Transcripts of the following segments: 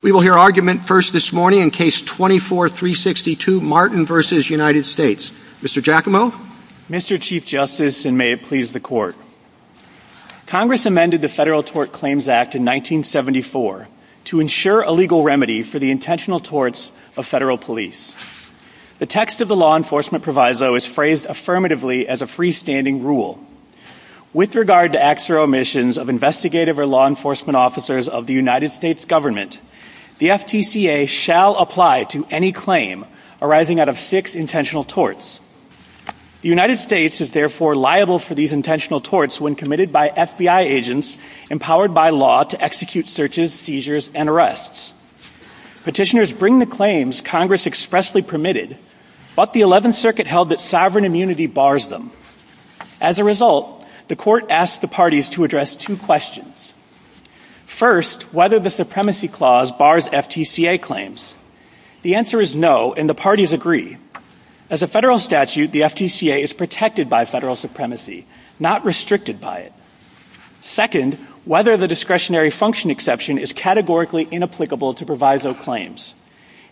We will hear argument first this morning in Case 24-362, Martin v. United States. Mr. Giacomo? Mr. Chief Justice, and may it please the Court, Congress amended the Federal Tort Claims Act in 1974 to ensure a legal remedy for the intentional torts of federal police. The text of the law enforcement proviso is phrased affirmatively as a freestanding rule. With regard to acts or omissions of investigative or law enforcement officers of the United States government, the FTCA shall apply to any claim arising out of six intentional torts. The United States is therefore liable for these intentional torts when committed by FBI agents empowered by law to execute searches, seizures, and arrests. Petitioners bring the claims Congress expressly permitted, but the 11th Circuit held that sovereign immunity bars them. As a result, the Court asked the parties to address two questions. First, whether the supremacy clause bars FTCA claims. The answer is no, and the parties agree. As a federal statute, the FTCA is protected by federal supremacy, not restricted by it. Second, whether the discretionary function exception is categorically inapplicable to proviso claims.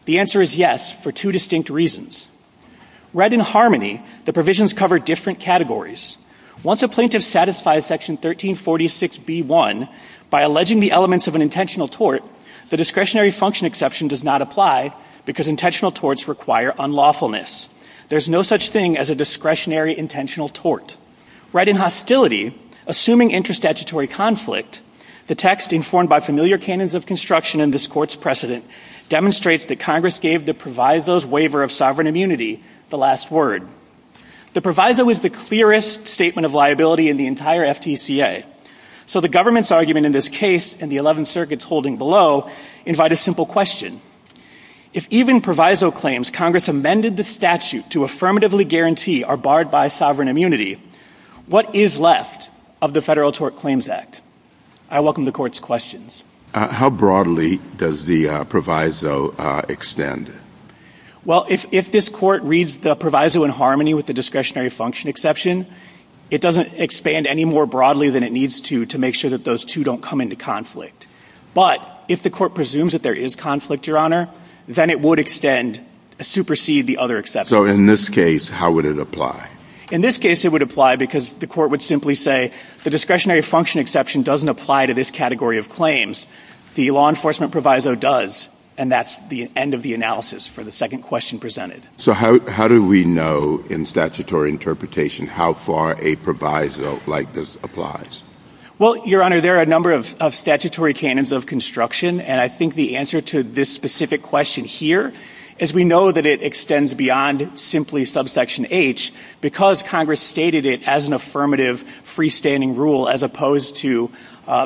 The answer is yes, for two distinct reasons. Read in harmony, the provisions cover different categories. Once a plaintiff satisfies section 1346B1, by alleging the elements of an intentional tort, the discretionary function exception does not apply because intentional torts require unlawfulness. There is no such thing as a discretionary intentional tort. Read in hostility, assuming interstatutory conflict, the text informed by familiar canons of construction in this Court's precedent demonstrates that Congress gave the proviso's waiver of sovereign immunity the last word. The proviso is the clearest statement of liability in the entire FTCA. So the government's argument in this case, and the 11th Circuit's holding below, invite a simple question. If even proviso claims Congress amended the statute to affirmatively guarantee are barred by sovereign immunity, what is left of the Federal Tort Claims Act? I welcome the Court's questions. How broadly does the proviso extend? Well, if this Court reads the proviso in harmony with the discretionary function exception, it doesn't expand any more broadly than it needs to, to make sure that those two don't come into conflict. But if the Court presumes that there is conflict, Your Honor, then it would extend, supersede the other exceptions. So in this case, how would it apply? In this case, it would apply because the Court would simply say, the discretionary function exception doesn't apply to this category of claims. The law enforcement proviso does, and that's the end of the analysis for the second question presented. So how do we know in statutory interpretation how far a proviso like this applies? Well, Your Honor, there are a number of statutory canons of construction, and I think the answer to this specific question here is we know that it extends beyond simply subsection H, because Congress stated it as an affirmative freestanding rule, as opposed to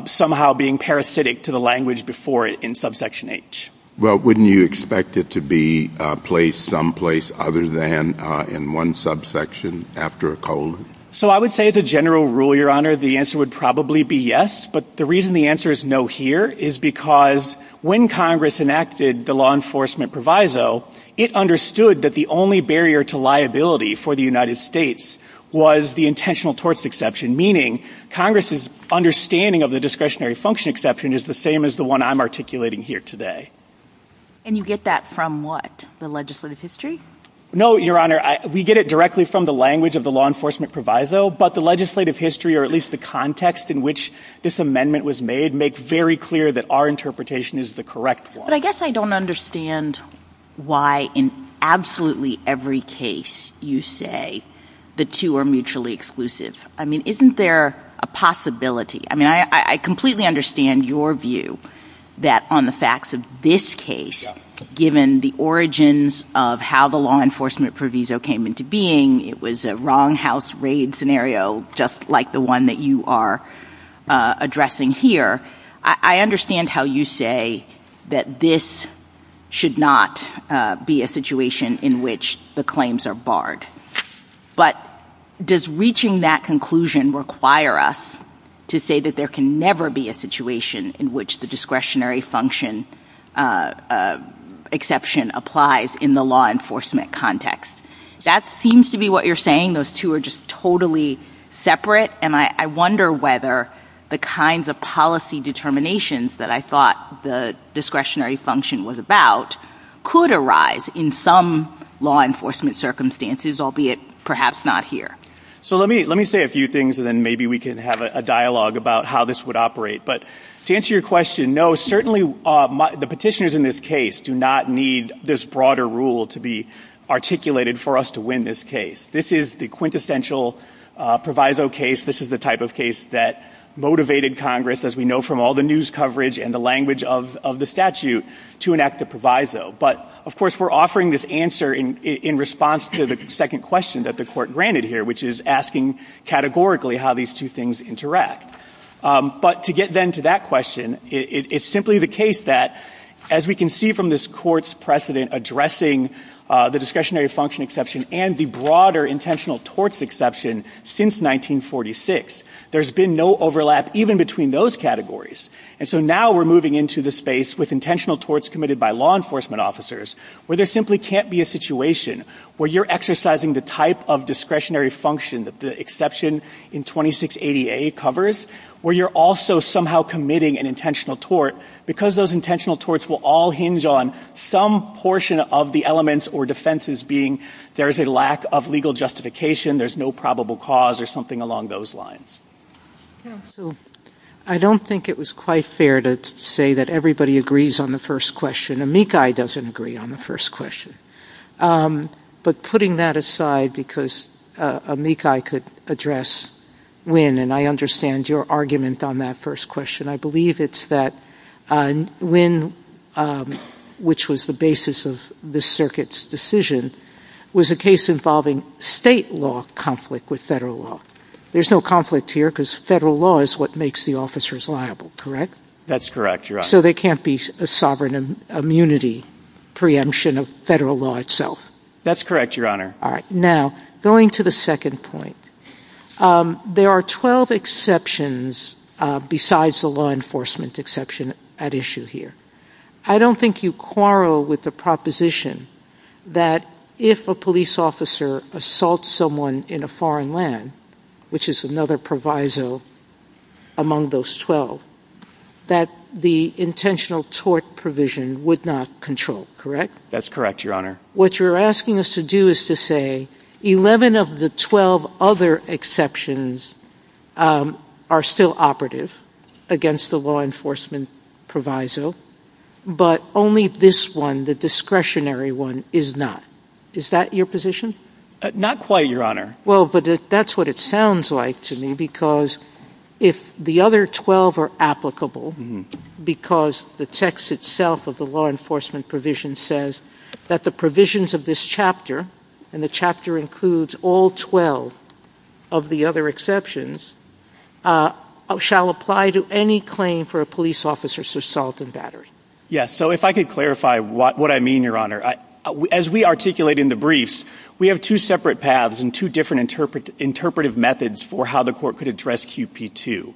somehow being parasitic to the language before it in subsection H. Well, wouldn't you expect it to be placed someplace other than in one subsection after a colon? So I would say as a general rule, Your Honor, the answer would probably be yes. But the reason the answer is no here is because when Congress enacted the law enforcement proviso, it understood that the only barrier to liability for the United States was the intentional torts exception, meaning Congress's understanding of the discretionary function exception is the same as the one I'm articulating here today. And you get that from what? The legislative history? No, Your Honor, we get it directly from the language of the law enforcement proviso, but the legislative history, or at least the context in which this amendment was made, make very clear that our interpretation is the correct one. I guess I don't understand why in absolutely every case you say the two are mutually exclusive. I mean, isn't there a possibility? I mean, I completely understand your view that on the facts of this case, given the origins of how the law enforcement proviso came into being, it was a wrong house raid scenario, just like the one that you are addressing here. I understand how you say that this should not be a situation in which the claims are barred. But does reaching that conclusion require us to say that there can never be a situation in which the discretionary function exception applies in the law enforcement context? That seems to be what you're saying. Those two are just totally separate. And I wonder whether the kinds of policy determinations that I thought the discretionary function was about could arise in some law enforcement circumstances, albeit perhaps not here. So let me say a few things, and then maybe we can have a dialogue about how this would operate. But to answer your question, no, certainly the petitioners in this case do not need this broader rule to be articulated for us to win this case. This is the quintessential proviso case. This is the type of case that motivated Congress, as we know from all the news coverage and the language of the statute, to enact the proviso. But, of course, we're offering this answer in response to the second question that the Court granted here, which is asking categorically how these two things interact. But to get then to that question, it's simply the case that, as we can see from this Court's precedent addressing the discretionary function and the broader intentional torts exception since 1946, there's been no overlap even between those categories. And so now we're moving into the space with intentional torts committed by law enforcement officers, where there simply can't be a situation where you're exercising the type of discretionary function that the exception in 2680A covers, where you're also somehow committing an intentional tort, because those intentional torts will all hinge on some portion of the elements or defenses being there's a lack of legal justification, there's no probable cause, or something along those lines. So, I don't think it was quite fair to say that everybody agrees on the first question. Amikai doesn't agree on the first question. But putting that aside, because Amikai could address Wynne, and I understand your argument on that first question, I believe it's that Wynne, which was the basis of this circuit's decision, was a case involving state law conflict with federal law. There's no conflict here, because federal law is what makes the officers liable, correct? That's correct, Your Honor. So there can't be a sovereign immunity preemption of federal law itself? That's correct, Your Honor. All right. Now, going to the second point, there are 12 exceptions besides the law enforcement exception at issue here. I don't think you quarrel with the proposition that if a police officer assaults someone in a foreign land, which is another proviso among those 12, that the intentional tort provision would not control, correct? That's correct, Your Honor. What you're asking us to do is to say 11 of the 12 other exceptions are still operative against the law enforcement proviso, but only this one, the discretionary one, is not. Is that your position? Not quite, Your Honor. Well, but that's what it sounds like to me, because if the other 12 are applicable, because the text itself of the law enforcement provision says that the provisions of this chapter, and the chapter includes all 12 of the other exceptions, shall apply to any claim for a police officer's assault and battery. Yes. So if I could clarify what I mean, Your Honor. As we articulate in the briefs, we have two separate paths and two different interpretive methods for how the court could express QP2.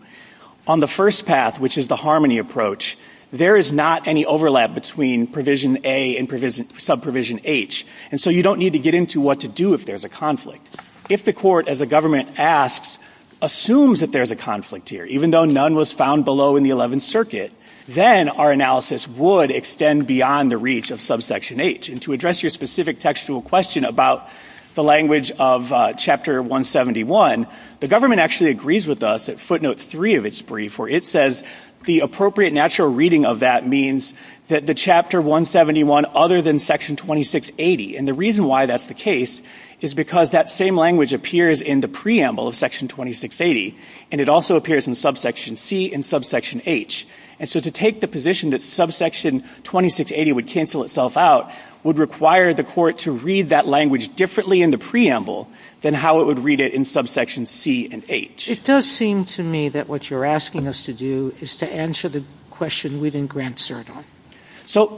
On the first path, which is the harmony approach, there is not any overlap between Provision A and Subprovision H, and so you don't need to get into what to do if there's a conflict. If the court, as the government asks, assumes that there's a conflict here, even though none was found below in the 11th Circuit, then our analysis would extend beyond the reach of Subsection H. And to address your specific textual question about the language of Chapter 171, the government actually agrees with us at Footnote 3 of its brief, where it says the appropriate natural reading of that means that the Chapter 171 other than Section 2680. And the reason why that's the case is because that same language appears in the preamble of Section 2680, and it also appears in Subsection C and Subsection H. And so to take the position that Subsection 2680 would cancel itself out would require the court to read that language differently in the preamble than how it would in Subsection C and H. It does seem to me that what you're asking us to do is to answer the question we didn't grant cert on.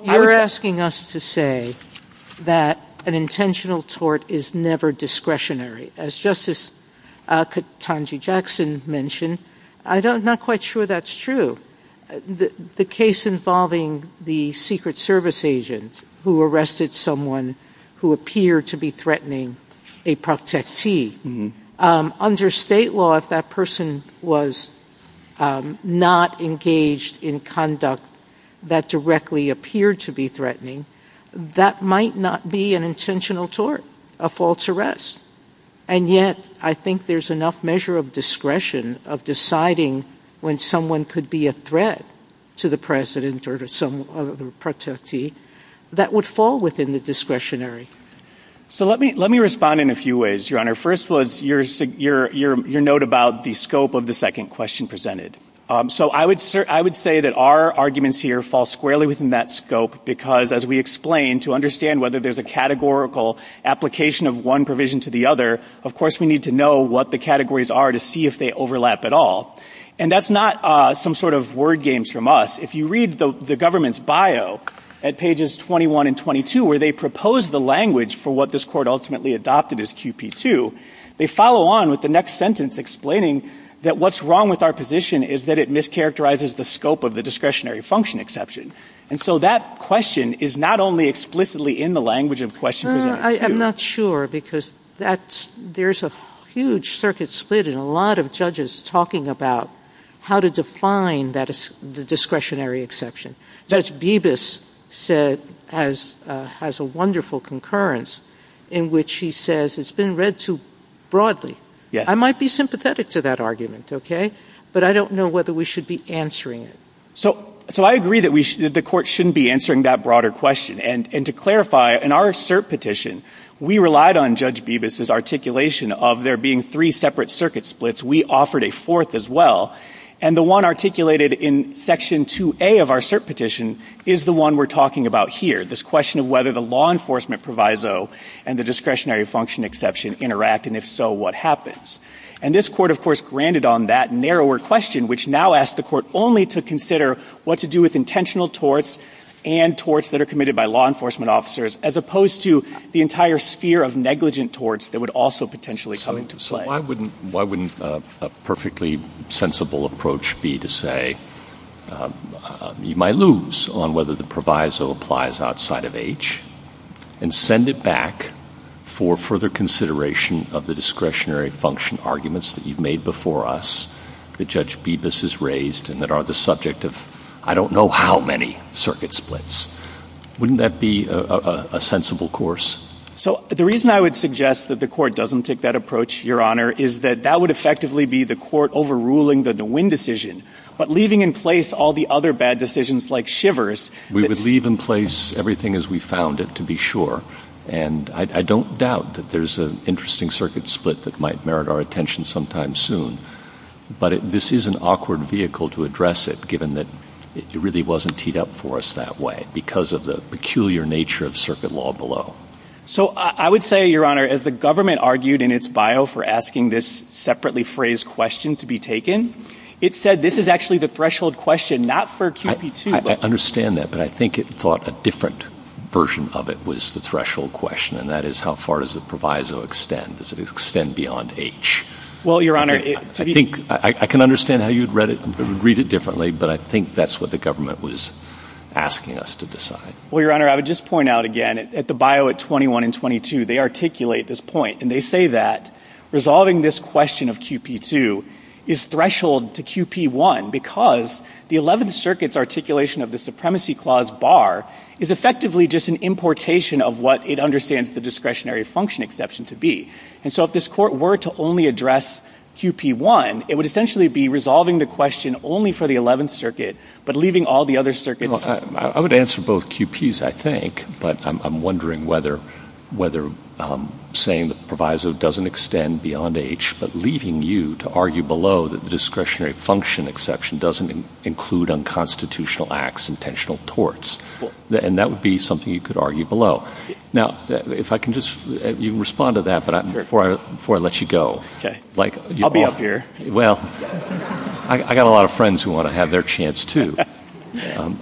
You're asking us to say that an intentional tort is never discretionary. As Justice Katonji-Jackson mentioned, I'm not quite sure that's true. The case involving the Secret Service agent who arrested someone who appeared to be threatening a protectee, under state law, if that person was not engaged in conduct that directly appeared to be threatening, that might not be an intentional tort, a false arrest. And yet, I think there's enough measure of discretion of deciding when someone could be a threat to the president or to the protectee that would fall within the discretionary. So let me respond in a few ways, Your Honor. First was your note about the scope of the second question presented. So I would say that our arguments here fall squarely within that scope because, as we explained, to understand whether there's a categorical application of one provision to the other, of course we need to know what the categories are to see if they overlap at all. And that's not some sort of word games from us. If you read the government's bio at pages 21 and 22 where they propose the language for what this Court ultimately adopted as QP2, they follow on with the next sentence explaining that what's wrong with our position is that it mischaracterizes the scope of the discretionary function exception. And so that question is not only explicitly in the language of question presented. I'm not sure because there's a huge circuit split in a lot of talking about how to define the discretionary exception. Judge Bibas has a wonderful concurrence in which he says it's been read too broadly. I might be sympathetic to that argument, okay, but I don't know whether we should be answering it. So I agree that the Court shouldn't be answering that broader question. And to clarify, in our cert petition, we relied on Judge Bibas' articulation of there being three separate circuit splits. We offered a fourth as well. And the one articulated in section 2A of our cert petition is the one we're talking about here, this question of whether the law enforcement proviso and the discretionary function exception interact, and if so, what happens. And this Court, of course, granted on that narrower question, which now asks the Court only to consider what to do with intentional torts and torts that are also potentially coming to play. So why wouldn't a perfectly sensible approach be to say you might lose on whether the proviso applies outside of H and send it back for further consideration of the discretionary function arguments that you've made before us that Judge Bibas has raised and that are the subject of I don't know how many circuit splits. Wouldn't that be a sensible course? So the reason I would suggest that the Court doesn't take that approach, Your Honor, is that that would effectively be the Court overruling the Nguyen decision, but leaving in place all the other bad decisions like Shivers. We would leave in place everything as we found it, to be sure. And I don't doubt that there's an interesting circuit split that might merit our attention sometime soon. But this is an awkward vehicle to address it, given that it really wasn't teed up for us that way, because of the peculiar nature of circuit law below. So I would say, Your Honor, as the government argued in its bio for asking this separately phrased question to be taken, it said this is actually the threshold question, not for QP2. I understand that, but I think it thought a different version of it was the threshold question, and that is how far does the proviso extend? Does it extend beyond H? Well, Your Honor, to be— I can understand how you would read it differently, but I think that's what the government was asking us to decide. Well, Your Honor, I would just point out again, at the bio at 21 and 22, they articulate this point, and they say that resolving this question of QP2 is threshold to QP1, because the Eleventh Circuit's articulation of the Supremacy Clause bar is effectively just an importation of what it understands the discretionary function exception to be. And so if this Court were to only address QP1, it would essentially be resolving the question only for the Eleventh Circuit, but leaving all the other circuits— Look, I would answer both QPs, I think, but I'm wondering whether saying the proviso doesn't extend beyond H, but leaving you to argue below that the discretionary function exception doesn't include unconstitutional acts, intentional torts. And that would be something you could argue below. Now, if I can just—you can respond to that, but before I let you go— Okay. I'll be up here. Well, I got a lot of friends who want to have their chance, too.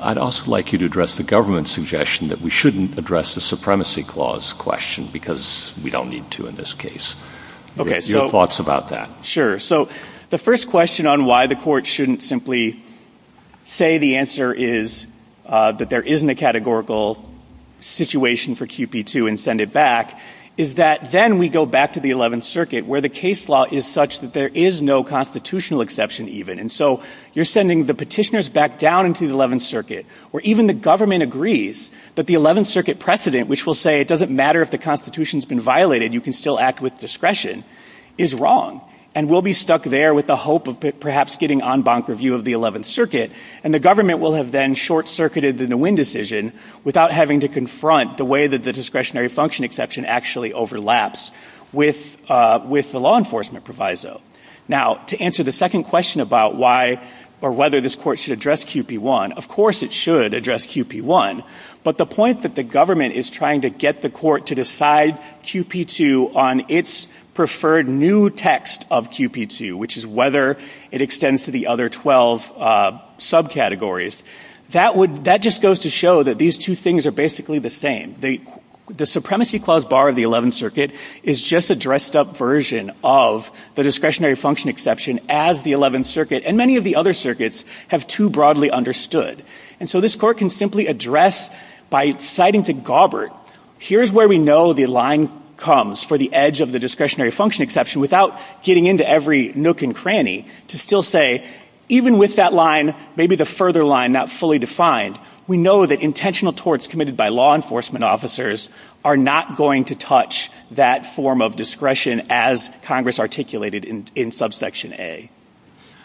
I'd also like you to address the government's suggestion that we shouldn't address the Supremacy Clause question, because we don't need to in this case. Your thoughts about that. Sure. So the first question on why the Court shouldn't simply say the answer is that there isn't a categorical situation for QP2 and send it back is that then we go back to the Eleventh Circuit, where the case law is such that there is no constitutional exception, even. And so you're sending the petitioners back down into the Eleventh Circuit, where even the government agrees that the Eleventh Circuit precedent, which will say it doesn't matter if the Constitution's been violated, you can still act with discretion, is wrong. And we'll be stuck there with the hope of perhaps getting en banc review of the Nguyen decision without having to confront the way that the discretionary function exception actually overlaps with the law enforcement proviso. Now, to answer the second question about why or whether this Court should address QP1, of course it should address QP1. But the point that the government is trying to get the Court to decide QP2 on its preferred new text of QP2, which is whether it extends to the other 12 subcategories, that just goes to show that these two things are basically the same. The supremacy clause bar of the Eleventh Circuit is just a dressed-up version of the discretionary function exception as the Eleventh Circuit and many of the other circuits have too broadly understood. And so this Court can simply address by citing to Gaubert, here's where we know the line comes for the edge of the nook and cranny, to still say, even with that line, maybe the further line not fully defined, we know that intentional torts committed by law enforcement officers are not going to touch that form of discretion as Congress articulated in Subsection A. MS. GOTTLIEB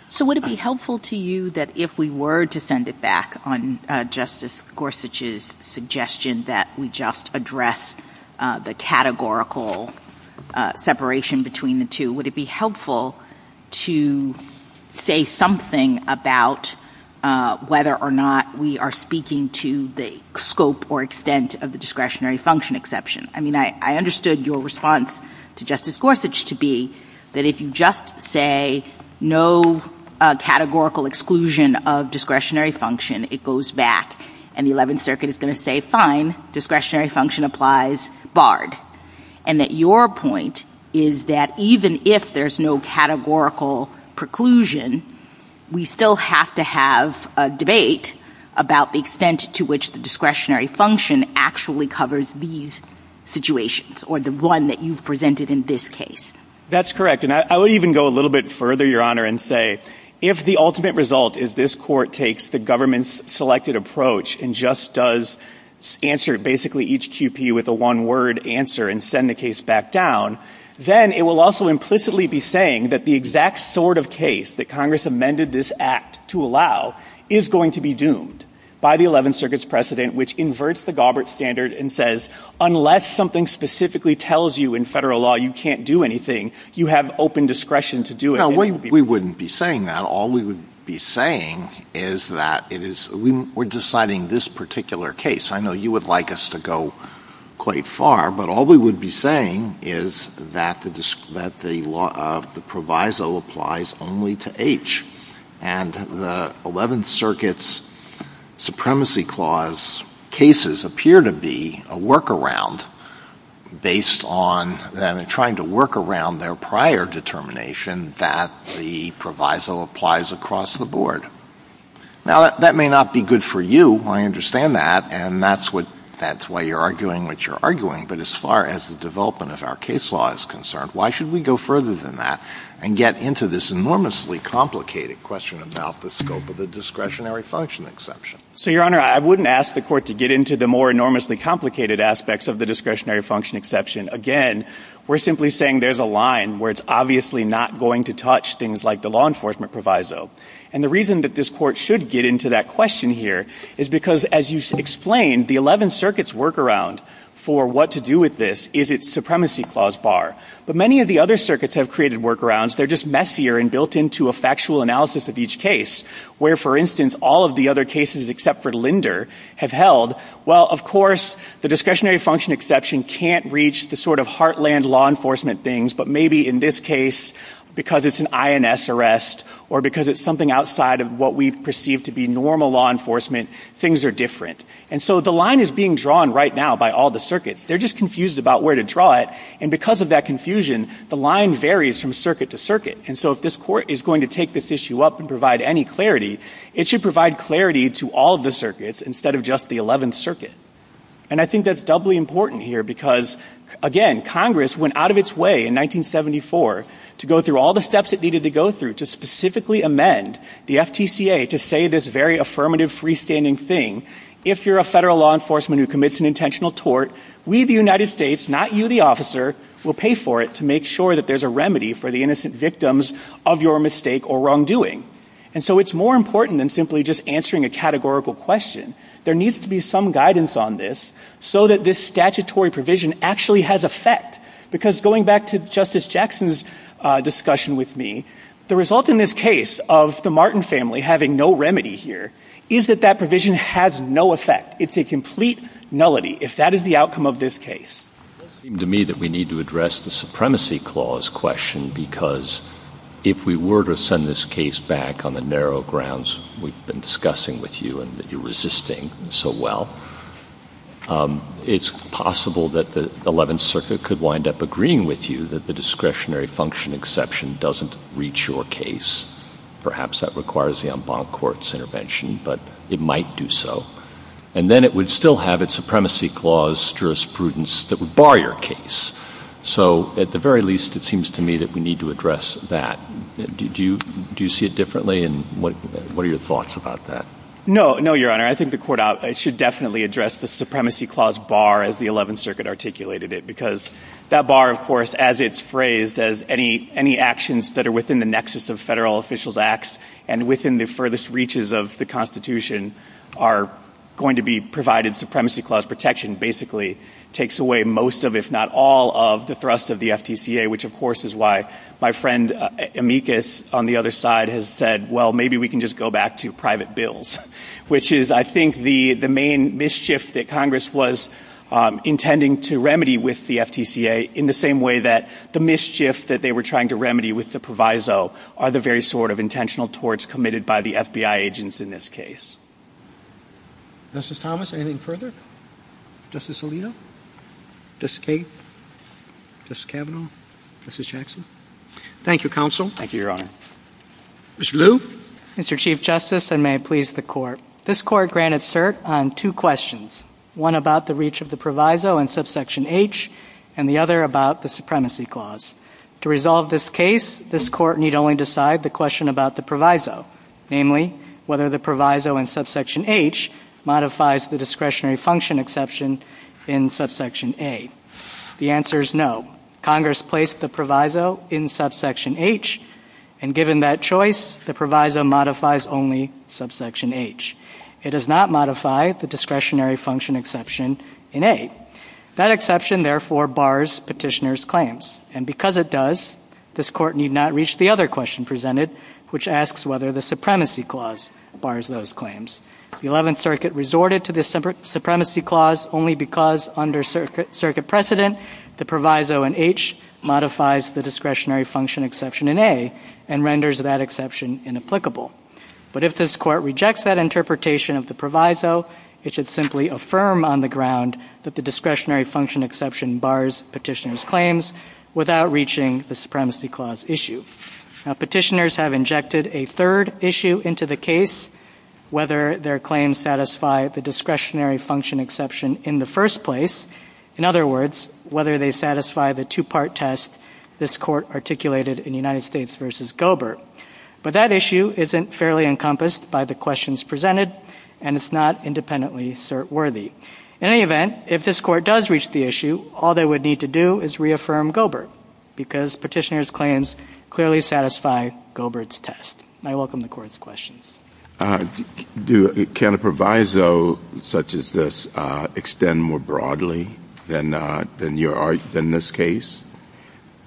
So would it be helpful to you that if we were to send it back on Justice Gorsuch's suggestion that we just address the categorical separation between the two, would it be helpful to say something about whether or not we are speaking to the scope or extent of the discretionary function exception? I mean, I understood your response to Justice Gorsuch to be that if you just say no categorical exclusion of discretionary function, it goes back and the Eleventh Circuit is going to say, fine, discretionary function applies, barred. And that your point is that even if there's no categorical preclusion, we still have to have a debate about the extent to which the discretionary function actually covers these situations or the one that you've presented in this case. MR. GARRETT That's correct. And I would even go a little bit further, Your Honor, and say, if the ultimate result is this Court takes the government's selected approach and just does answer basically each QP with a one-word answer and send the case back down, then it will also implicitly be saying that the exact sort of case that Congress amended this Act to allow is going to be doomed by the Eleventh Circuit's precedent, which inverts the Galbraith standard and says, unless something specifically tells you in federal law you can't do anything, you have open discretion to do it. We wouldn't be saying that. All we would be saying is that we're deciding this particular case. I know you would like us to go quite far, but all we would be saying is that the proviso applies only to H. And the Eleventh Circuit's supremacy clause cases appear to be a workaround based on them trying to work around their prior determination that the proviso applies across the board. Now, that may not be good for you. I understand that. And that's why you're arguing what you're arguing. But as far as the development of our case law is concerned, why should we go further than that and get into this enormously complicated question about the scope of the discretionary function exception? So, Your Honor, I wouldn't ask the Court to get into the more enormously complicated aspects of the discretionary function exception. Again, we're simply saying there's a line where it's obviously not going to touch things like the law enforcement proviso. And the reason that this Court should get into that question here is because, as you explained, the Eleventh Circuit's workaround for what to do with this is its supremacy clause bar. But many of the other circuits have created workarounds. They're just messier and built into a factual analysis of each case, where, for instance, all of the other cases except for Linder have held, well, of course, the discretionary function exception can't reach the sort of heartland law enforcement things. But maybe in this case, because it's an INS arrest or because it's something outside of what we perceive to be normal law enforcement, things are different. And so the line is being drawn right now by all the circuits. They're just confused about where to draw it. And because of that confusion, the line varies from circuit to circuit. And so if this Court is going to take this issue up and provide any clarity, it should provide clarity to all of the circuits instead of just the Eleventh Circuit. And I think that's doubly important here because, again, Congress went out of its way in 1974 to go through all the steps it needed to go through to specifically amend the FTCA to say this very affirmative freestanding thing, if you're a federal law enforcement who commits an intentional tort, we, the United States, not you, the officer, will pay for it to make sure that there's a remedy for the innocent victims of your mistake or wrongdoing. And so it's more important than simply just answering a categorical question. There needs to be some guidance on this so that this statutory provision actually has effect. Because going back to Justice Jackson's discussion with me, the result in this case of the Martin family having no remedy here is that that provision has no effect. It's a complete nullity if that is the outcome of this case. It does seem to me that we need to address the Supremacy Clause question because if we were to send this case back on the narrow grounds we've been discussing with you and that you're resisting so well, it's possible that the Eleventh Circuit could wind up agreeing with you that the discretionary function exception doesn't reach your case. Perhaps that requires the en banc court's intervention, but it might do so. And then it would still have its Supremacy Clause jurisprudence that would bar your case. So at the very least, it seems to me that we need to address that. Do you see it differently? And what are your thoughts about that? No, no, Your Honor. I think the court should definitely address the Supremacy Clause bar as the Eleventh Circuit articulated it. Because that bar, of course, as it's phrased, as any actions that are within the nexus of federal officials' acts and within the furthest reaches of the Constitution are going to be provided Supremacy Clause protection basically takes away most of, if not all of, the thrust of the FTCA, which, of course, is why my friend Amicus on the other side has said, well, maybe we can just go back to private bills, which is, I think, the main mischief that Congress was intending to remedy with the FTCA in the same way that the mischief that they were trying to remedy with the proviso are the very sort of intentional torts committed by the FBI agents in this case. Justice Thomas, anything further? Justice Alito? Justice Kagan? Justice Kavanaugh? Justice Jackson? Thank you, Counsel. Thank you, Your Honor. Mr. Liu? Mr. Chief Justice, and may it please the Court, this Court granted cert on two questions, one about the reach of the proviso in Subsection H and the other about the Supremacy Clause. To resolve this case, this Court need only decide the question about the proviso, namely, whether the proviso in Subsection H modifies the discretionary function exception in Subsection A. The answer is no. Congress placed the proviso in Subsection H, and given that choice, the proviso modifies only Subsection H. It does not modify the discretionary function exception in A. That exception, therefore, bars Petitioner's claims. And because it does, this Court need not reach the other question presented, which asks whether the Supremacy Clause bars those claims. The Eleventh Circuit resorted to the Supremacy Clause only because under circuit precedent, the proviso in H modifies the discretionary function exception in A and renders that exception inapplicable. But if this Court rejects that interpretation of the proviso, it should simply affirm on the ground that the discretionary function exception bars Petitioner's claims without reaching the Supremacy Clause issue. Petitioners have injected a third issue into the case, whether their claims satisfy the discretionary function exception in the first place. In other words, whether they satisfy the two-part test this Court articulated in United States v. Goebbert. But that issue isn't fairly encompassed by the questions presented, and it's not independently cert-worthy. In any event, if this Court does reach the issue, all they would need to do is reaffirm Goebbert, because Petitioner's claims clearly satisfy Goebbert's test. I welcome the Court's questions. Do, can a proviso such as this extend more broadly than your, than this case?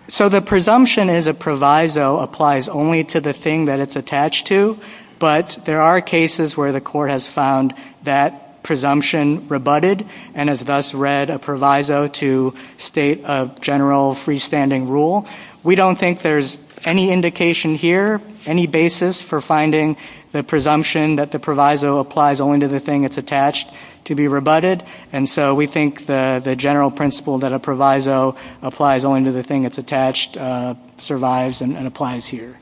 So the presumption is a proviso applies only to the thing that it's attached to, but there are cases where the Court has found that presumption rebutted, and has thus read a proviso to state a general freestanding rule. We don't think there's any indication here, any basis for finding the presumption that the proviso applies only to the thing it's attached to be rebutted, and so we think the general principle that a proviso applies only to the thing it's attached survives and applies here.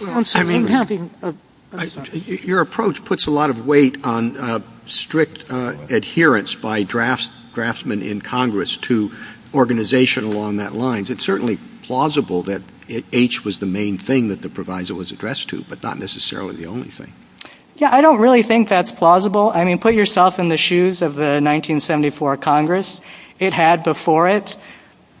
Well, I'm sorry, I'm having a, I'm sorry. Your approach puts a lot of weight on strict adherence by drafts, draftsmen in Congress to organization along that lines. It's certainly plausible that H was the main thing that the proviso was addressed to, but not necessarily the only thing. Yeah, I don't really think that's plausible. I mean, put yourself in the shoes of the 1974 Congress. It had before it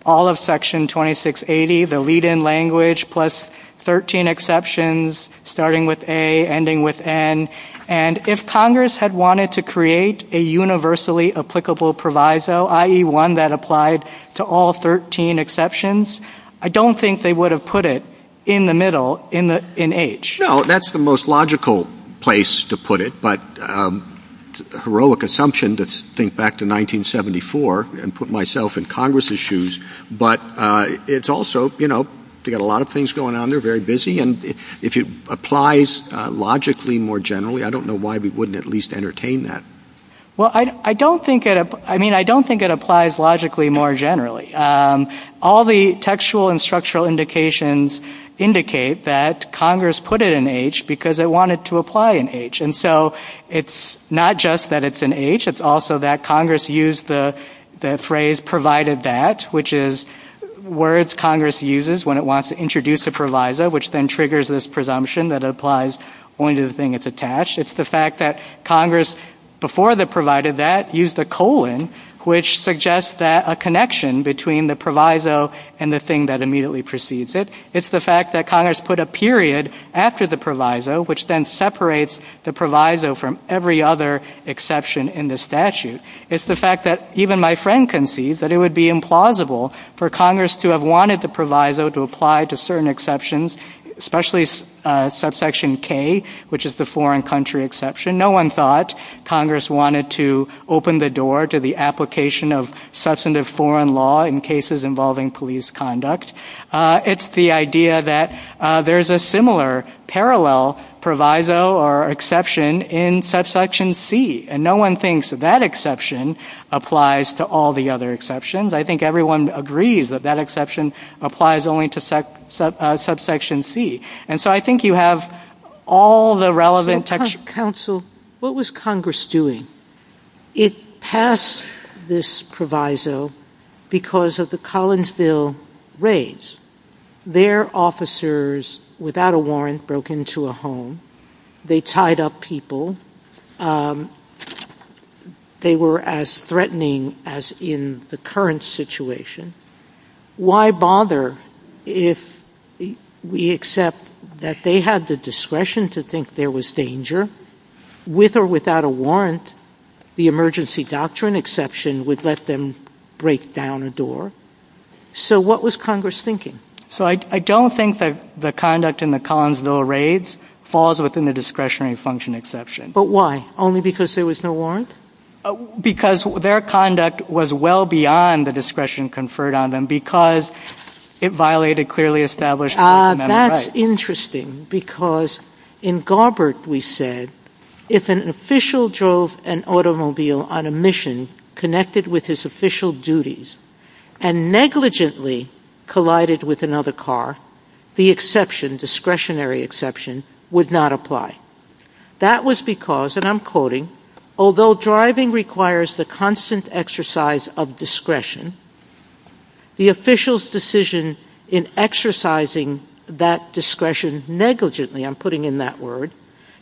all of Section 2680, the lead-in language, plus 13 exceptions, starting with A, ending with N, and if Congress had wanted to create a universally applicable proviso, i.e. one that applied to all 13 exceptions, I don't think they would have put it in the middle, in H. No, that's the most logical place to put it, but heroic assumption to think back to 1974 and put myself in Congress's shoes, but it's also, you know, they got a lot of things going on. They're very busy, and if it applies logically more generally, I don't know why we wouldn't at least entertain that. Well, I don't think it, I mean, I don't think it applies logically more generally. All the textual and structural indications indicate that Congress put it in H because it wanted to apply in H, and so it's not just that it's in H, it's also that Congress used the phrase provided that, which is words Congress uses when it wants to introduce a proviso, which then triggers this presumption that it applies only to the thing it's attached. It's the fact that Congress, before the provided that, used the colon, which suggests that a connection between the proviso and the thing that immediately precedes it. It's the fact that Congress put a period after the proviso, which then separates the proviso from every other exception in the statute. It's the fact that even my friend concedes that it would be implausible for Congress to have wanted the proviso to apply to certain exceptions, especially subsection K, which is the foreign country exception. No one thought Congress wanted to open the door to the application of substantive foreign law in cases involving police conduct. It's the idea that there's a similar parallel proviso or exception in subsection C, and no one thinks that that exception applies to all the other exceptions. I think everyone agrees that that exception applies only to subsection C. And so I think you have all the relevant... So counsel, what was Congress doing? It passed this proviso because of the Collinsville raids. Their officers, without a warrant, broke into a home. They tied up people. They were as threatening as in the current situation. Why bother if we accept that they had the discretion to think there was danger? With or without a warrant, the emergency doctrine exception would let them break down a door. So what was Congress thinking? So I don't think that the conduct in the Collinsville raids falls within the discretionary function exception. But why? Only because there was no warrant? Because their conduct was well beyond the discretion conferred on them, because it violated clearly established... Ah, that's interesting, because in Garbert we said, if an official drove an automobile on a mission connected with his official duties and negligently collided with another car, the exception, discretionary exception, would not apply. That was because, and I'm quoting, although driving requires the constant exercise of discretion, the official's decision in exercising that discretion negligently, I'm putting in that word,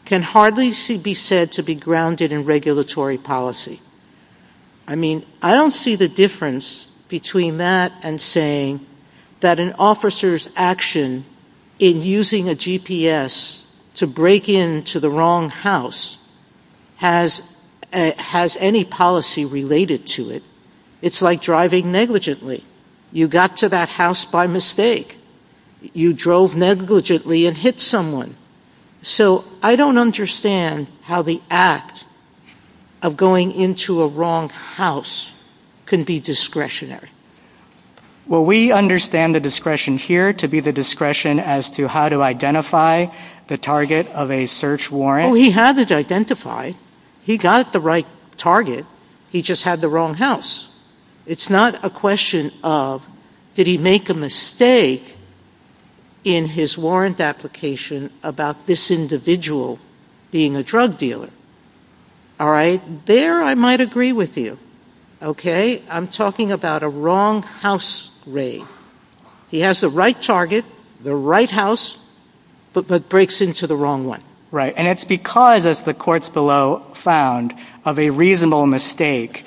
can hardly be said to be grounded in regulatory policy. I mean, I don't see the difference between that and saying that an officer's action in using a GPS to break into the wrong house has any policy related to it. It's like driving negligently. You got to that house by mistake. You drove negligently and hit someone. So I don't understand how the act of going into a wrong house can be discretionary. Well, we understand the discretion here to be the discretion as to how to identify the target of a search warrant. Oh, he had it identified. He got the right target. He just had the wrong house. It's not a question of, did he make a mistake in his warrant application about this individual being a drug dealer? All right. There, I might agree with you. Okay. I'm talking about a wrong house raid. He has the right target, the right house, but breaks into the wrong one. Right. And it's because, as the courts below found, of a reasonable mistake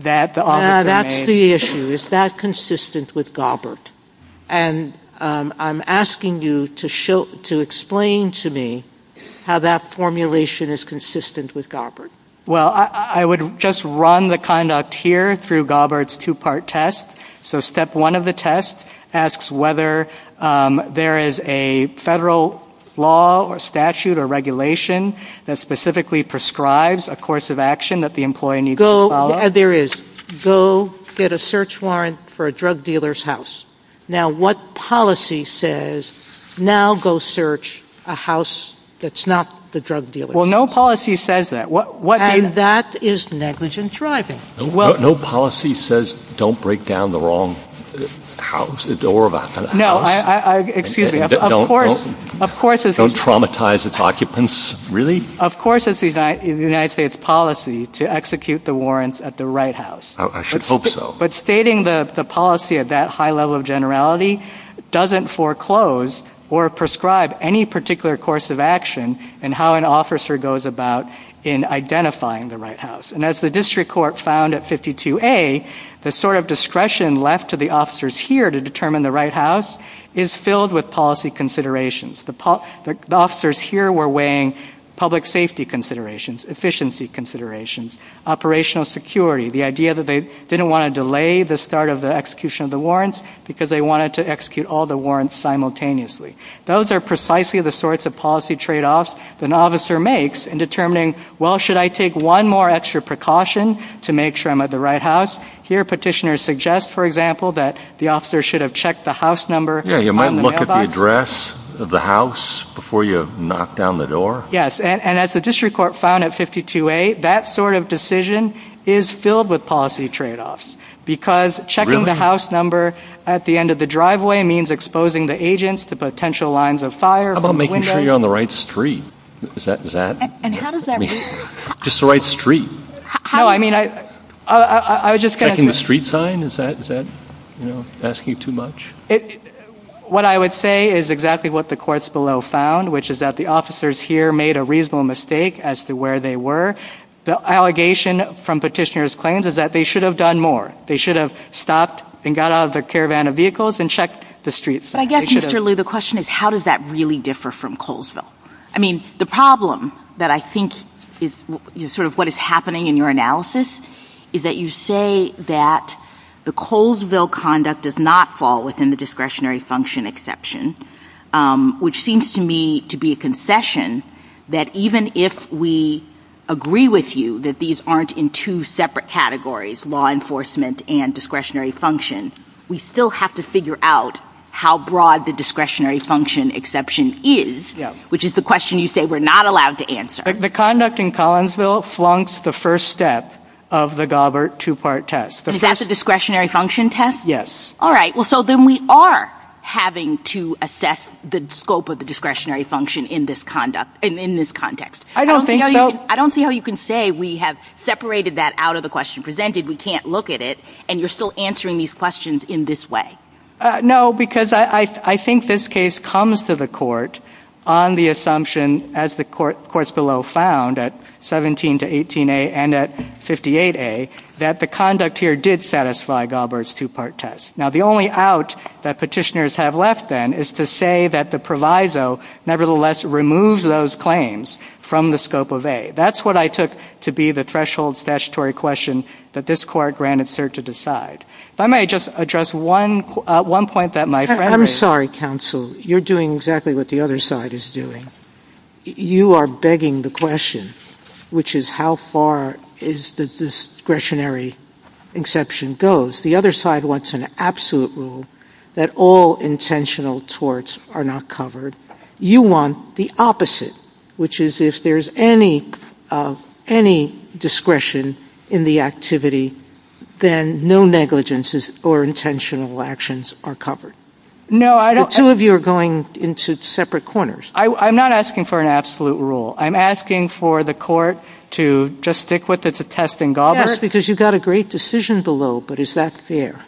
that the officer made. That's the issue. Is that consistent with Gobbert? And I'm asking you to explain to me how that formulation is consistent with Gobbert. Well, I would just run the conduct here through Gobbert's two-part test. So step one of the test asks whether there is a federal law or statute or regulation that specifically prescribes a course of action that the employee needs to follow. There is. Go get a search warrant for a drug dealer's house. Now, what policy says, now go search a house that's not the drug dealer's house? Well, no policy says that. And that is negligent driving. No policy says, don't break down the wrong house, the door of a house. No, excuse me. Of course, of course. Don't traumatize its occupants. Really? Of course it's the United States policy to execute the warrants at the right house. Oh, I should hope so. But stating the policy at that high level of generality doesn't foreclose or prescribe any particular course of action in how an officer goes about in identifying the right house. And as the district court found at 52A, the sort of discretion left to the officers here to determine the right house is filled with policy considerations. The officers here were weighing public safety considerations, efficiency considerations, operational security, the idea that they didn't want to delay the start of the execution of the warrants because they wanted to execute all the warrants simultaneously. Those are precisely the sorts of policy trade-offs that an officer makes in determining, well, should I take one more extra precaution to make sure I'm at the right house? Here, petitioners suggest, for example, that the officer should have checked the house number on the mailbox. The address of the house before you knock down the door? And as the district court found at 52A, that sort of decision is filled with policy trade-offs because checking the house number at the end of the driveway means exposing the agents to potential lines of fire from the windows. How about making sure you're on the right street? And how does that work? Just the right street. No, I mean, I was just going to say… Checking the street sign? Is that, you know, asking too much? What I would say is exactly what the courts below found, which is that the officers here made a reasonable mistake as to where they were. The allegation from petitioners' claims is that they should have done more. They should have stopped and got out of the caravan of vehicles and checked the street sign. But I guess, Mr. Liu, the question is, how does that really differ from Colesville? I mean, the problem that I think is sort of what is happening in your analysis is that you say that the Colesville conduct does not fall within the discretionary function exception, which seems to me to be a concession that even if we agree with you that these aren't in two separate categories, law enforcement and discretionary function, we still have to figure out how broad the discretionary function exception is, which is the question you say we're not allowed to answer. The conduct in Colesville flunks the first step of the Gobbert two-part test. Is that the discretionary function test? Yes. All right. Well, so then we are having to assess the scope of the discretionary function in this conduct, in this context. I don't think so. I don't see how you can say we have separated that out of the question presented. We can't look at it. And you're still answering these questions in this way. No, because I think this case comes to the court on the assumption, as the courts below found at 17 to 18A and at 58A, that the conduct here did satisfy Gobbert's two-part test. Now, the only out that petitioners have left then is to say that the proviso nevertheless removes those claims from the scope of A. That's what I took to be the threshold statutory question that this court granted cert to decide. If I may just address one point that my friend raised. I'm sorry, counsel. You're doing exactly what the other side is doing. You are begging the question, which is how far does this discretionary exception goes? The other side wants an absolute rule that all intentional torts are not covered. You want the opposite, which is if there's any discretion in the activity, then no negligences or intentional actions are covered. No, I don't. The two of you are going into separate corners. I'm not asking for an absolute rule. I'm asking for the court to just stick with its attesting Gobbert. Yes, because you got a great decision below. But is that fair?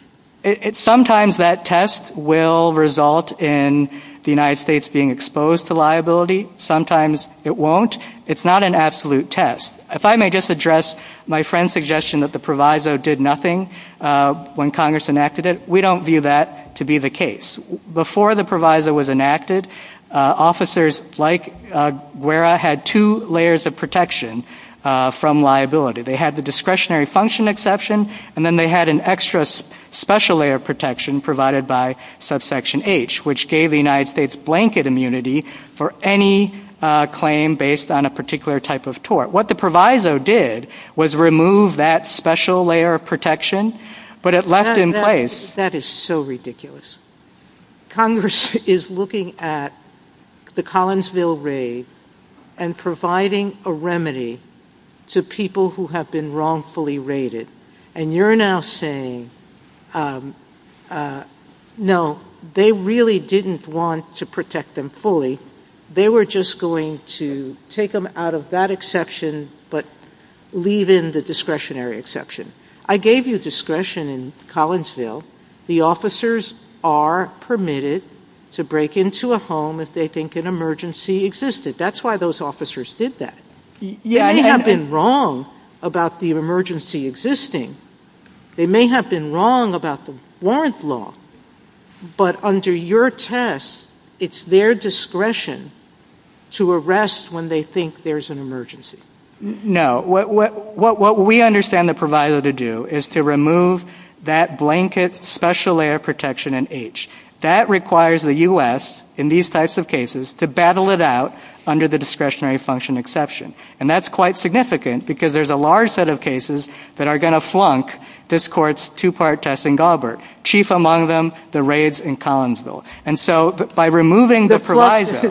Sometimes that test will result in the United States being exposed to liability. Sometimes it won't. It's not an absolute test. If I may just address my friend's suggestion that the proviso did nothing when Congress enacted it, we don't view that to be the case. Before the proviso was enacted, officers like Guerra had two layers of protection from liability. They had the discretionary function exception, and then they had an extra special layer of protection provided by subsection H, which gave the United States blanket immunity for any claim based on a particular type of tort. What the proviso did was remove that special layer of protection, but it left in place. That is so ridiculous. Congress is looking at the Collinsville raid and providing a remedy to people who have been wrongfully raided. And you're now saying, no, they really didn't want to protect them fully. They were just going to take them out of that exception, but leave in the discretionary exception. I gave you discretion in Collinsville. The officers are permitted to break into a home if they think an emergency existed. That's why those officers did that. They may have been wrong about the emergency existing. They may have been wrong about the warrant law. But under your test, it's their discretion to arrest when they think there's an emergency. No, what we understand the proviso to do is to remove that blanket special layer of protection in H. That requires the U.S., in these types of cases, to battle it out under the discretionary function exception. And that's quite significant because there's a large set of cases that are going to flunk this court's two part test in Galbert, chief among them, the raids in Collinsville. And so by removing the proviso.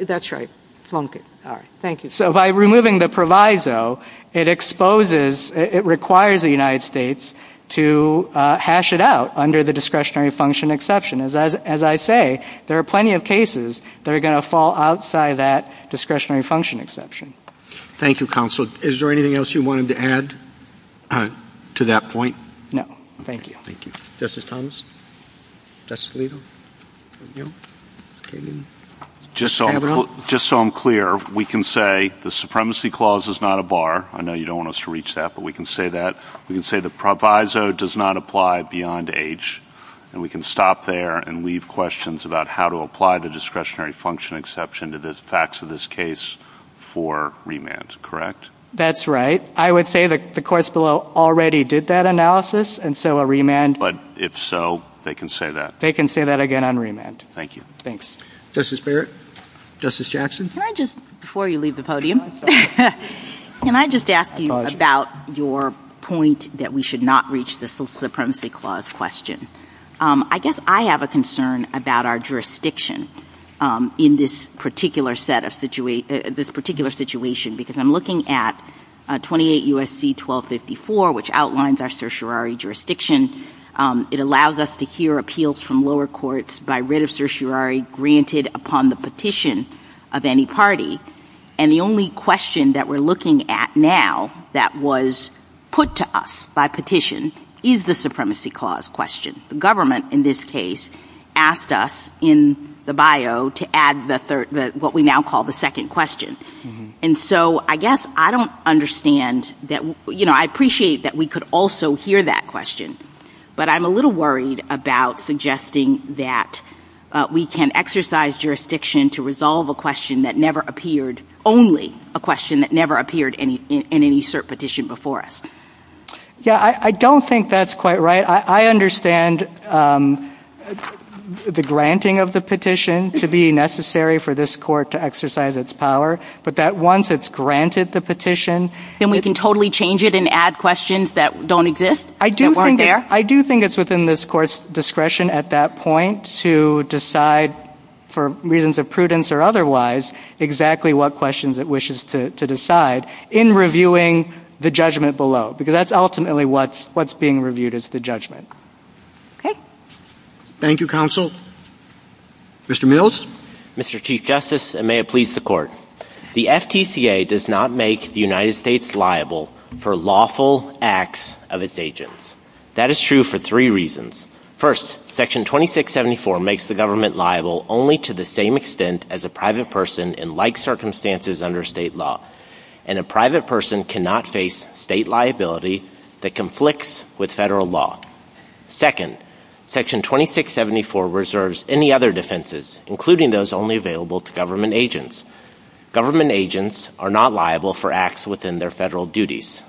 That's right. Flunk it. All right. Thank you. So by removing the proviso, it exposes, it requires the United States to hash it out under the discretionary function exception. As I say, there are plenty of cases that are going to fall outside that discretionary function exception. Thank you, counsel. Is there anything else you wanted to add to that point? Thank you. Thank you. Justice Thomas. Justice Alito. Just so I'm clear, we can say the supremacy clause is not a bar. I know you don't want us to reach that, but we can say that. We can say the proviso does not apply beyond H. And we can stop there and leave questions about how to apply the discretionary function exception to the facts of this case for remand. Correct? That's right. I would say that the courts below already did that analysis. And so a remand. But if so, they can say that. They can say that again on remand. Thank you. Thanks. Justice Barrett. Justice Jackson. Can I just, before you leave the podium, can I just ask you about your point that we should not reach the social supremacy clause question? I guess I have a concern about our jurisdiction in this particular set of situation, this particular situation, because I'm looking at 28 U.S.C. 1254, which outlines our certiorari jurisdiction. It allows us to hear appeals from lower courts by writ of certiorari granted upon the petition of any party. And the only question that we're looking at now that was put to us by petition is the supremacy clause question. The government, in this case, asked us in the bio to add what we now call the second question. And so I guess I don't understand that, you know, I appreciate that we could also hear that question. But I'm a little worried about suggesting that we can exercise jurisdiction to resolve a question that never appeared, only a question that never appeared in any cert petition before us. Yeah, I don't think that's quite right. I understand the granting of the petition to be necessary for this court to exercise its power. But that once it's granted the petition. Then we can totally change it and add questions that don't exist, that weren't there. I do think it's within this court's discretion at that point to decide for reasons of prudence or otherwise exactly what questions it wishes to decide in reviewing the judgment below. Because that's ultimately what's being reviewed is the judgment. Okay. Thank you, counsel. Mr. Mills. Mr. Chief Justice, and may it please the court. The FTCA does not make the United States liable for lawful acts of its agents. That is true for three reasons. First, section 2674 makes the government liable only to the same extent as a private person in like circumstances under state law. And a private person cannot face state liability that conflicts with federal law. Second, section 2674 reserves any other defenses, including those only available to government agents. Government agents are not liable for acts within their federal duties.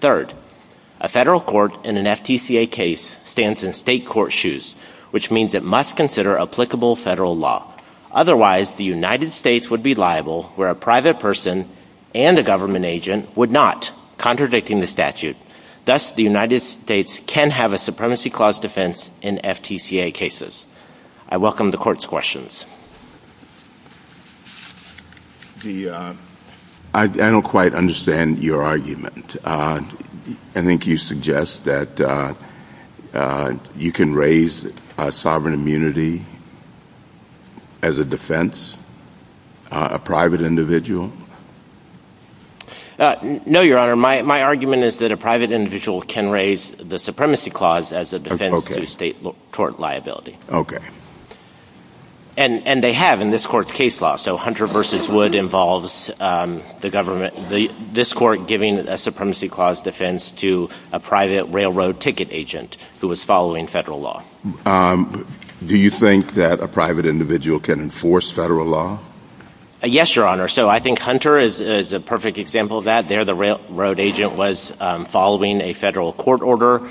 Third, a federal court in an FTCA case stands in state court shoes, which means it must consider applicable federal law. Otherwise, the United States would be liable where a private person and a government agent would not, contradicting the statute. Thus, the United States can have a supremacy clause defense in FTCA cases. I welcome the court's questions. I don't quite understand your argument. I think you suggest that you can raise sovereign immunity as a defense, a private individual? No, Your Honor. My argument is that a private individual can raise the supremacy clause as a defense to state tort liability. And they have in this court's case law. So Hunter v. Wood involves this court giving a supremacy clause defense to a private railroad ticket agent who was following federal law. Do you think that a private individual can enforce federal law? Yes, Your Honor. So I think Hunter is a perfect example of that. There the railroad agent was following a federal court order.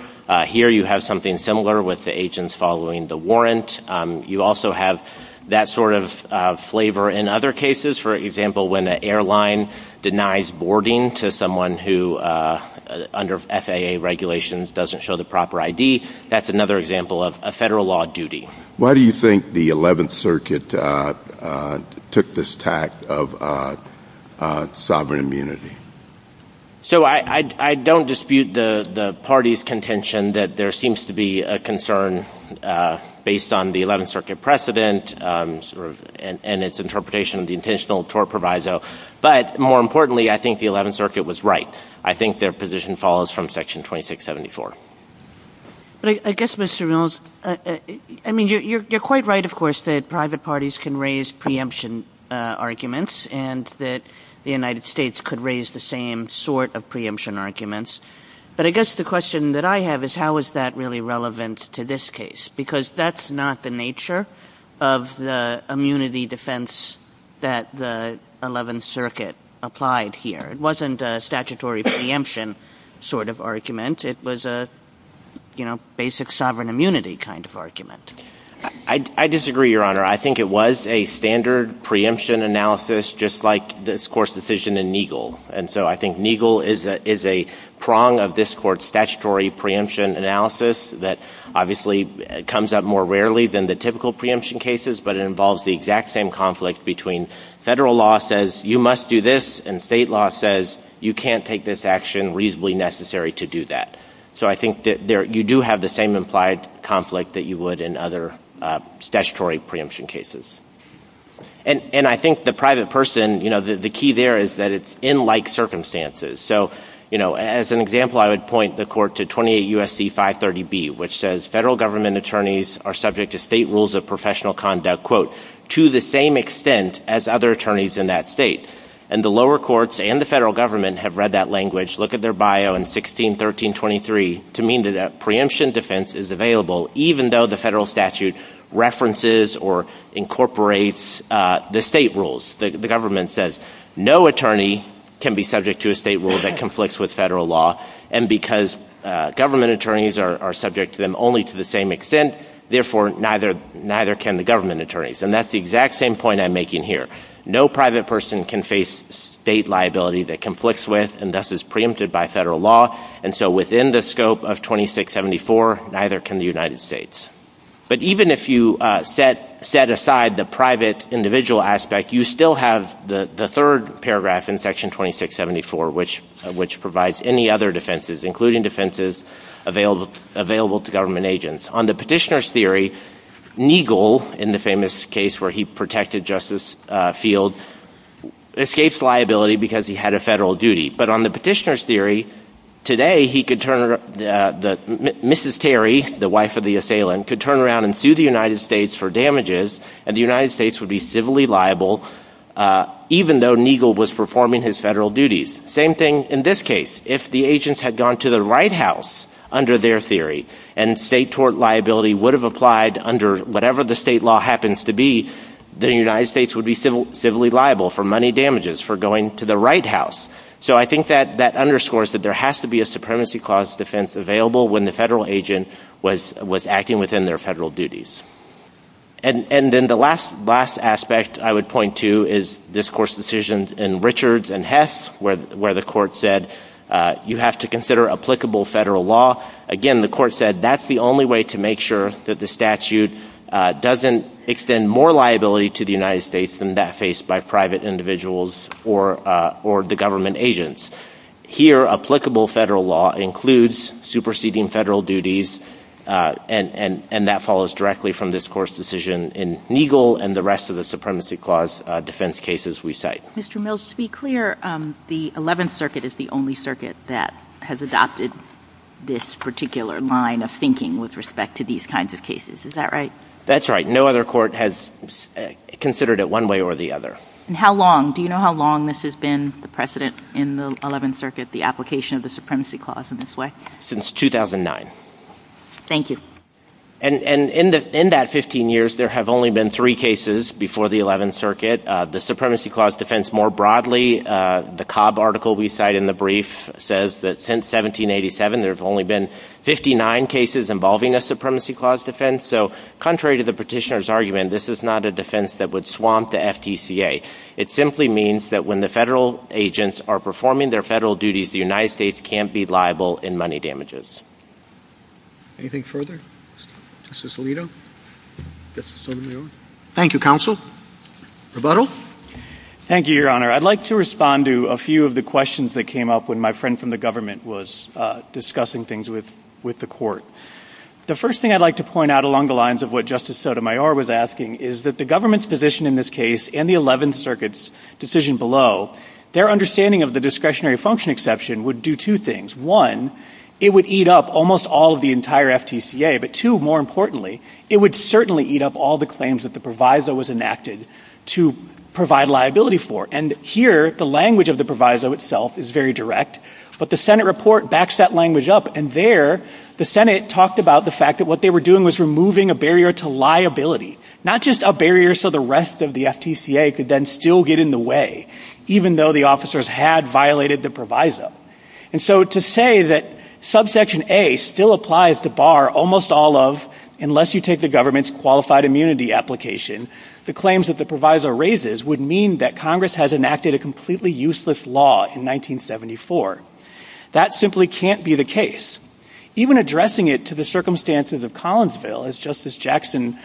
Here you have something similar with the agents following the warrant. You also have that sort of flavor in other cases. For example, when an airline denies boarding to someone who under FAA regulations doesn't show the proper ID, that's another example of a federal law duty. Why do you think the 11th Circuit took this tact of sovereign immunity? So I don't dispute the party's contention that there seems to be a concern based on the 11th Circuit precedent and its interpretation of the intentional tort proviso. But more importantly, I think the 11th Circuit was right. I think their position follows from Section 2674. But I guess, Mr. Mills, I mean, you're quite right, of course, that private parties can raise preemption arguments and that the United States could raise the same sort of preemption arguments. But I guess the question that I have is, how is that really relevant to this case? Because that's not the nature of the immunity defense that the 11th Circuit applied here. It wasn't a statutory preemption sort of argument. It was a basic sovereign immunity kind of argument. I disagree, Your Honor. I think it was a standard preemption analysis, just like this Court's decision in Neagle. And so I think Neagle is a prong of this Court's statutory preemption analysis that obviously comes up more rarely than the typical preemption cases, but it involves the exact same conflict between federal law says, you must do this, and state law says, you can't take this action, reasonably necessary to do that. So I think that you do have the same implied conflict that you would in other statutory preemption cases. And I think the private person, you know, the key there is that it's in like circumstances. So, you know, as an example, I would point the Court to 28 U.S.C. 530B, which says federal government attorneys are subject to state rules of professional conduct, quote, to the same extent as other attorneys in that state. And the lower courts and the federal government have read that language. Look at their bio in 161323 to mean that a preemption defense is available, even though the federal statute references or incorporates the state rules. The government says no attorney can be subject to a state rule that conflicts with federal law. And because government attorneys are subject to them only to the same extent, therefore, neither can the government attorneys. And that's the exact same point I'm making here. No private person can face state liability that conflicts with and thus is preempted by federal law. And so within the scope of 2674, neither can the United States. But even if you set aside the private individual aspect, you still have the third paragraph in Section 2674, which provides any other defenses, including defenses available to government agents. On the petitioner's theory, Neagle, in the famous case where he protected Justice Field, escapes liability because he had a federal duty. But on the petitioner's theory, today, he could turn Mrs. Terry, the wife of the assailant, could turn around and sue the United States for damages, and the United States would be civilly liable, even though Neagle was performing his federal duties. Same thing in this case. If the agents had gone to the White House under their theory and state tort liability would have applied under whatever the state law happens to be, the United States would be civilly liable for money damages for going to the White House. So I think that underscores that there has to be a supremacy clause defense available when the federal agent was acting within their federal duties. And then the last aspect I would point to is this Court's decision in Richards and Hess, where the Court said you have to consider applicable federal law. Again, the Court said that's the only way to make sure that the statute doesn't extend more liability to the United States than that faced by private individuals or the government agents. Here, applicable federal law includes superseding federal duties, and that follows directly from this Court's decision in Neagle and the rest of the supremacy clause defense cases we cite. Mr. Mills, to be clear, the 11th Circuit is the only circuit that has adopted this particular line of thinking with respect to these kinds of cases. Is that right? That's right. No other court has considered it one way or the other. And how long? Do you know how long this has been, the precedent in the 11th Circuit, the application of the supremacy clause in this way? Since 2009. Thank you. And in that 15 years, there have only been three cases before the 11th Circuit. The supremacy clause defense more broadly, the Cobb article we cite in the brief says that since 1787, there have only been 59 cases involving a supremacy clause defense. So contrary to the petitioner's argument, this is not a defense that would swamp the FTCA. It simply means that when the federal agents are performing their federal duties, the United States can't be liable in money damages. Anything further? Justice Alito? Justice Sotomayor? Thank you, counsel. Thank you, Your Honor. I'd like to respond to a few of the questions that came up when my friend from the government was discussing things with the court. The first thing I'd like to point out along the lines of what Justice Sotomayor was asking is that the government's position in this case and the 11th Circuit's decision below, their understanding of the discretionary function exception would do two things. One, it would eat up almost all of the entire FTCA. But two, more importantly, it would certainly eat up all the claims that the proviso was to provide liability for. And here, the language of the proviso itself is very direct. But the Senate report backs that language up. And there, the Senate talked about the fact that what they were doing was removing a barrier to liability, not just a barrier so the rest of the FTCA could then still get in the way, even though the officers had violated the proviso. And so to say that subsection A still applies to bar almost all of, unless you take the claims that the proviso raises would mean that Congress has enacted a completely useless law in 1974. That simply can't be the case. Even addressing it to the circumstances of Collinsville, as Justice Jackson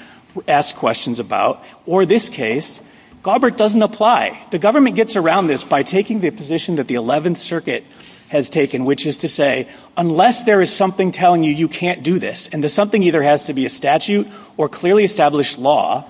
asked questions about, or this case, Galbraith doesn't apply. The government gets around this by taking the position that the 11th Circuit has taken, which is to say, unless there is something telling you you can't do this, and the something either has to be a statute or clearly established law,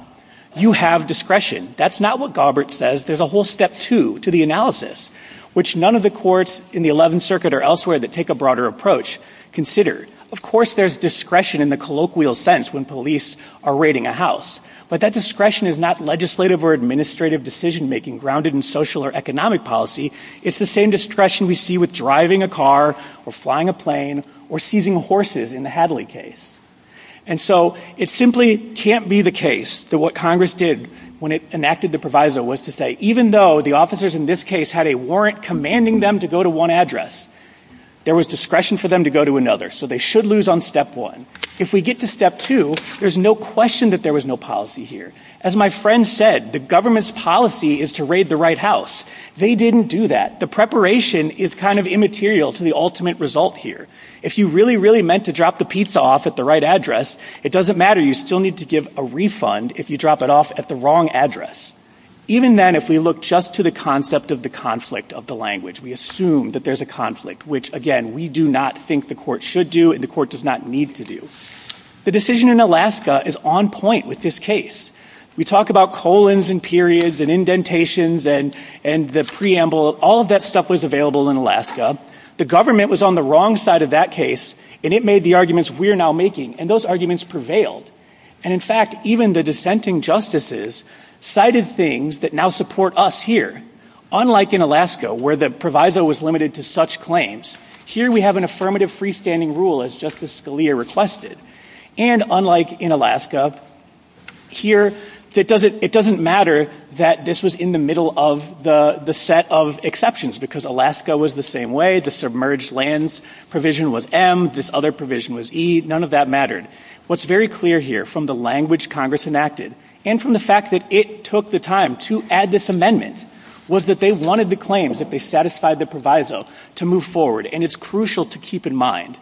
you have discretion. That's not what Galbraith says. There's a whole step two to the analysis, which none of the courts in the 11th Circuit or elsewhere that take a broader approach consider. Of course, there's discretion in the colloquial sense when police are raiding a house. But that discretion is not legislative or administrative decision-making grounded in social or economic policy. It's the same discretion we see with driving a car or flying a plane or seizing horses in the Hadley case. And so it simply can't be the case that what Congress did when it enacted the proviso was to say, even though the officers in this case had a warrant commanding them to go to one address, there was discretion for them to go to another. So they should lose on step one. If we get to step two, there's no question that there was no policy here. As my friend said, the government's policy is to raid the right house. They didn't do that. The preparation is kind of immaterial to the ultimate result here. If you really, really meant to drop the pizza off at the right address, it doesn't matter. You still need to give a refund if you drop it off at the wrong address. Even then, if we look just to the concept of the conflict of the language, we assume that there's a conflict, which, again, we do not think the court should do and the court does not need to do. The decision in Alaska is on point with this case. We talk about colons and periods and indentations and the preamble. All of that stuff was available in Alaska. The government was on the wrong side of that case, and it made the arguments we're now making, and those arguments prevailed. And in fact, even the dissenting justices cited things that now support us here. Unlike in Alaska, where the proviso was limited to such claims, here we have an affirmative freestanding rule, as Justice Scalia requested. And unlike in Alaska, here it doesn't matter that this was in the middle of the set of exceptions, because Alaska was the same way. The submerged lands provision was M. This other provision was E. None of that mattered. What's very clear here from the language Congress enacted and from the fact that it took the time to add this amendment was that they wanted the claims, if they satisfied the proviso, to move forward. And it's crucial to keep in mind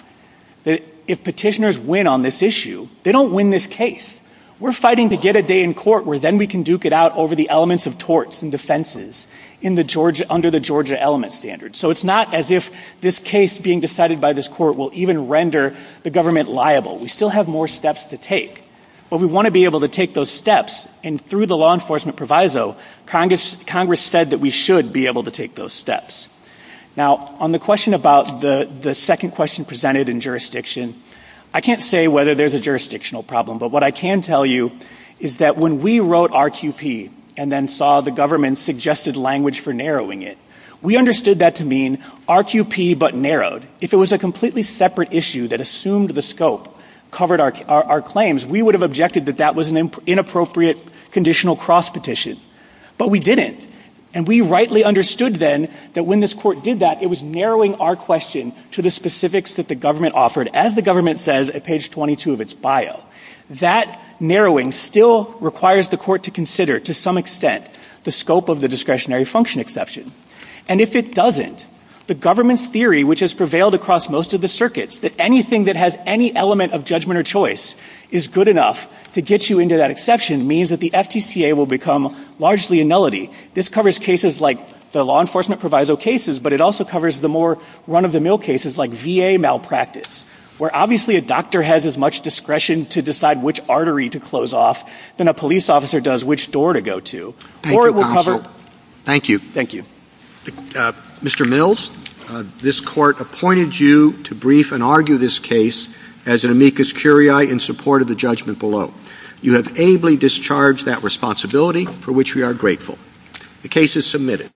that if petitioners win on this issue, they don't win this case. We're fighting to get a day in court where then we can duke it out over the elements of torts and defenses under the Georgia element standard. So it's not as if this case being decided by this court will even render the government liable. We still have more steps to take. But we want to be able to take those steps, and through the law enforcement proviso, Congress said that we should be able to take those steps. Now, on the question about the second question presented in jurisdiction, I can't say whether there's a jurisdictional problem. But what I can tell you is that when we wrote RQP and then saw the government suggested language for narrowing it, we understood that to mean RQP but narrowed. If it was a completely separate issue that assumed the scope, covered our claims, we would have objected that that was an inappropriate conditional cross petition. But we didn't. And we rightly understood then that when this court did that, it was narrowing our question to the specifics that the government offered. As the government says at page 22 of its bio, that narrowing still requires the court to consider to some extent the scope of the discretionary function exception. And if it doesn't, the government's theory, which has prevailed across most of the circuits, that anything that has any element of judgment or choice is good enough to get you into that exception means that the FTCA will become largely a nullity. This covers cases like the law enforcement proviso cases, but it also covers the more run-of-the-mill cases like VA malpractice. Obviously, a doctor has as much discretion to decide which artery to close off than a police officer does which door to go to. Thank you, counsel. Thank you. Thank you. Mr. Mills, this court appointed you to brief and argue this case as an amicus curiae in support of the judgment below. You have ably discharged that responsibility, for which we are grateful. The case is submitted.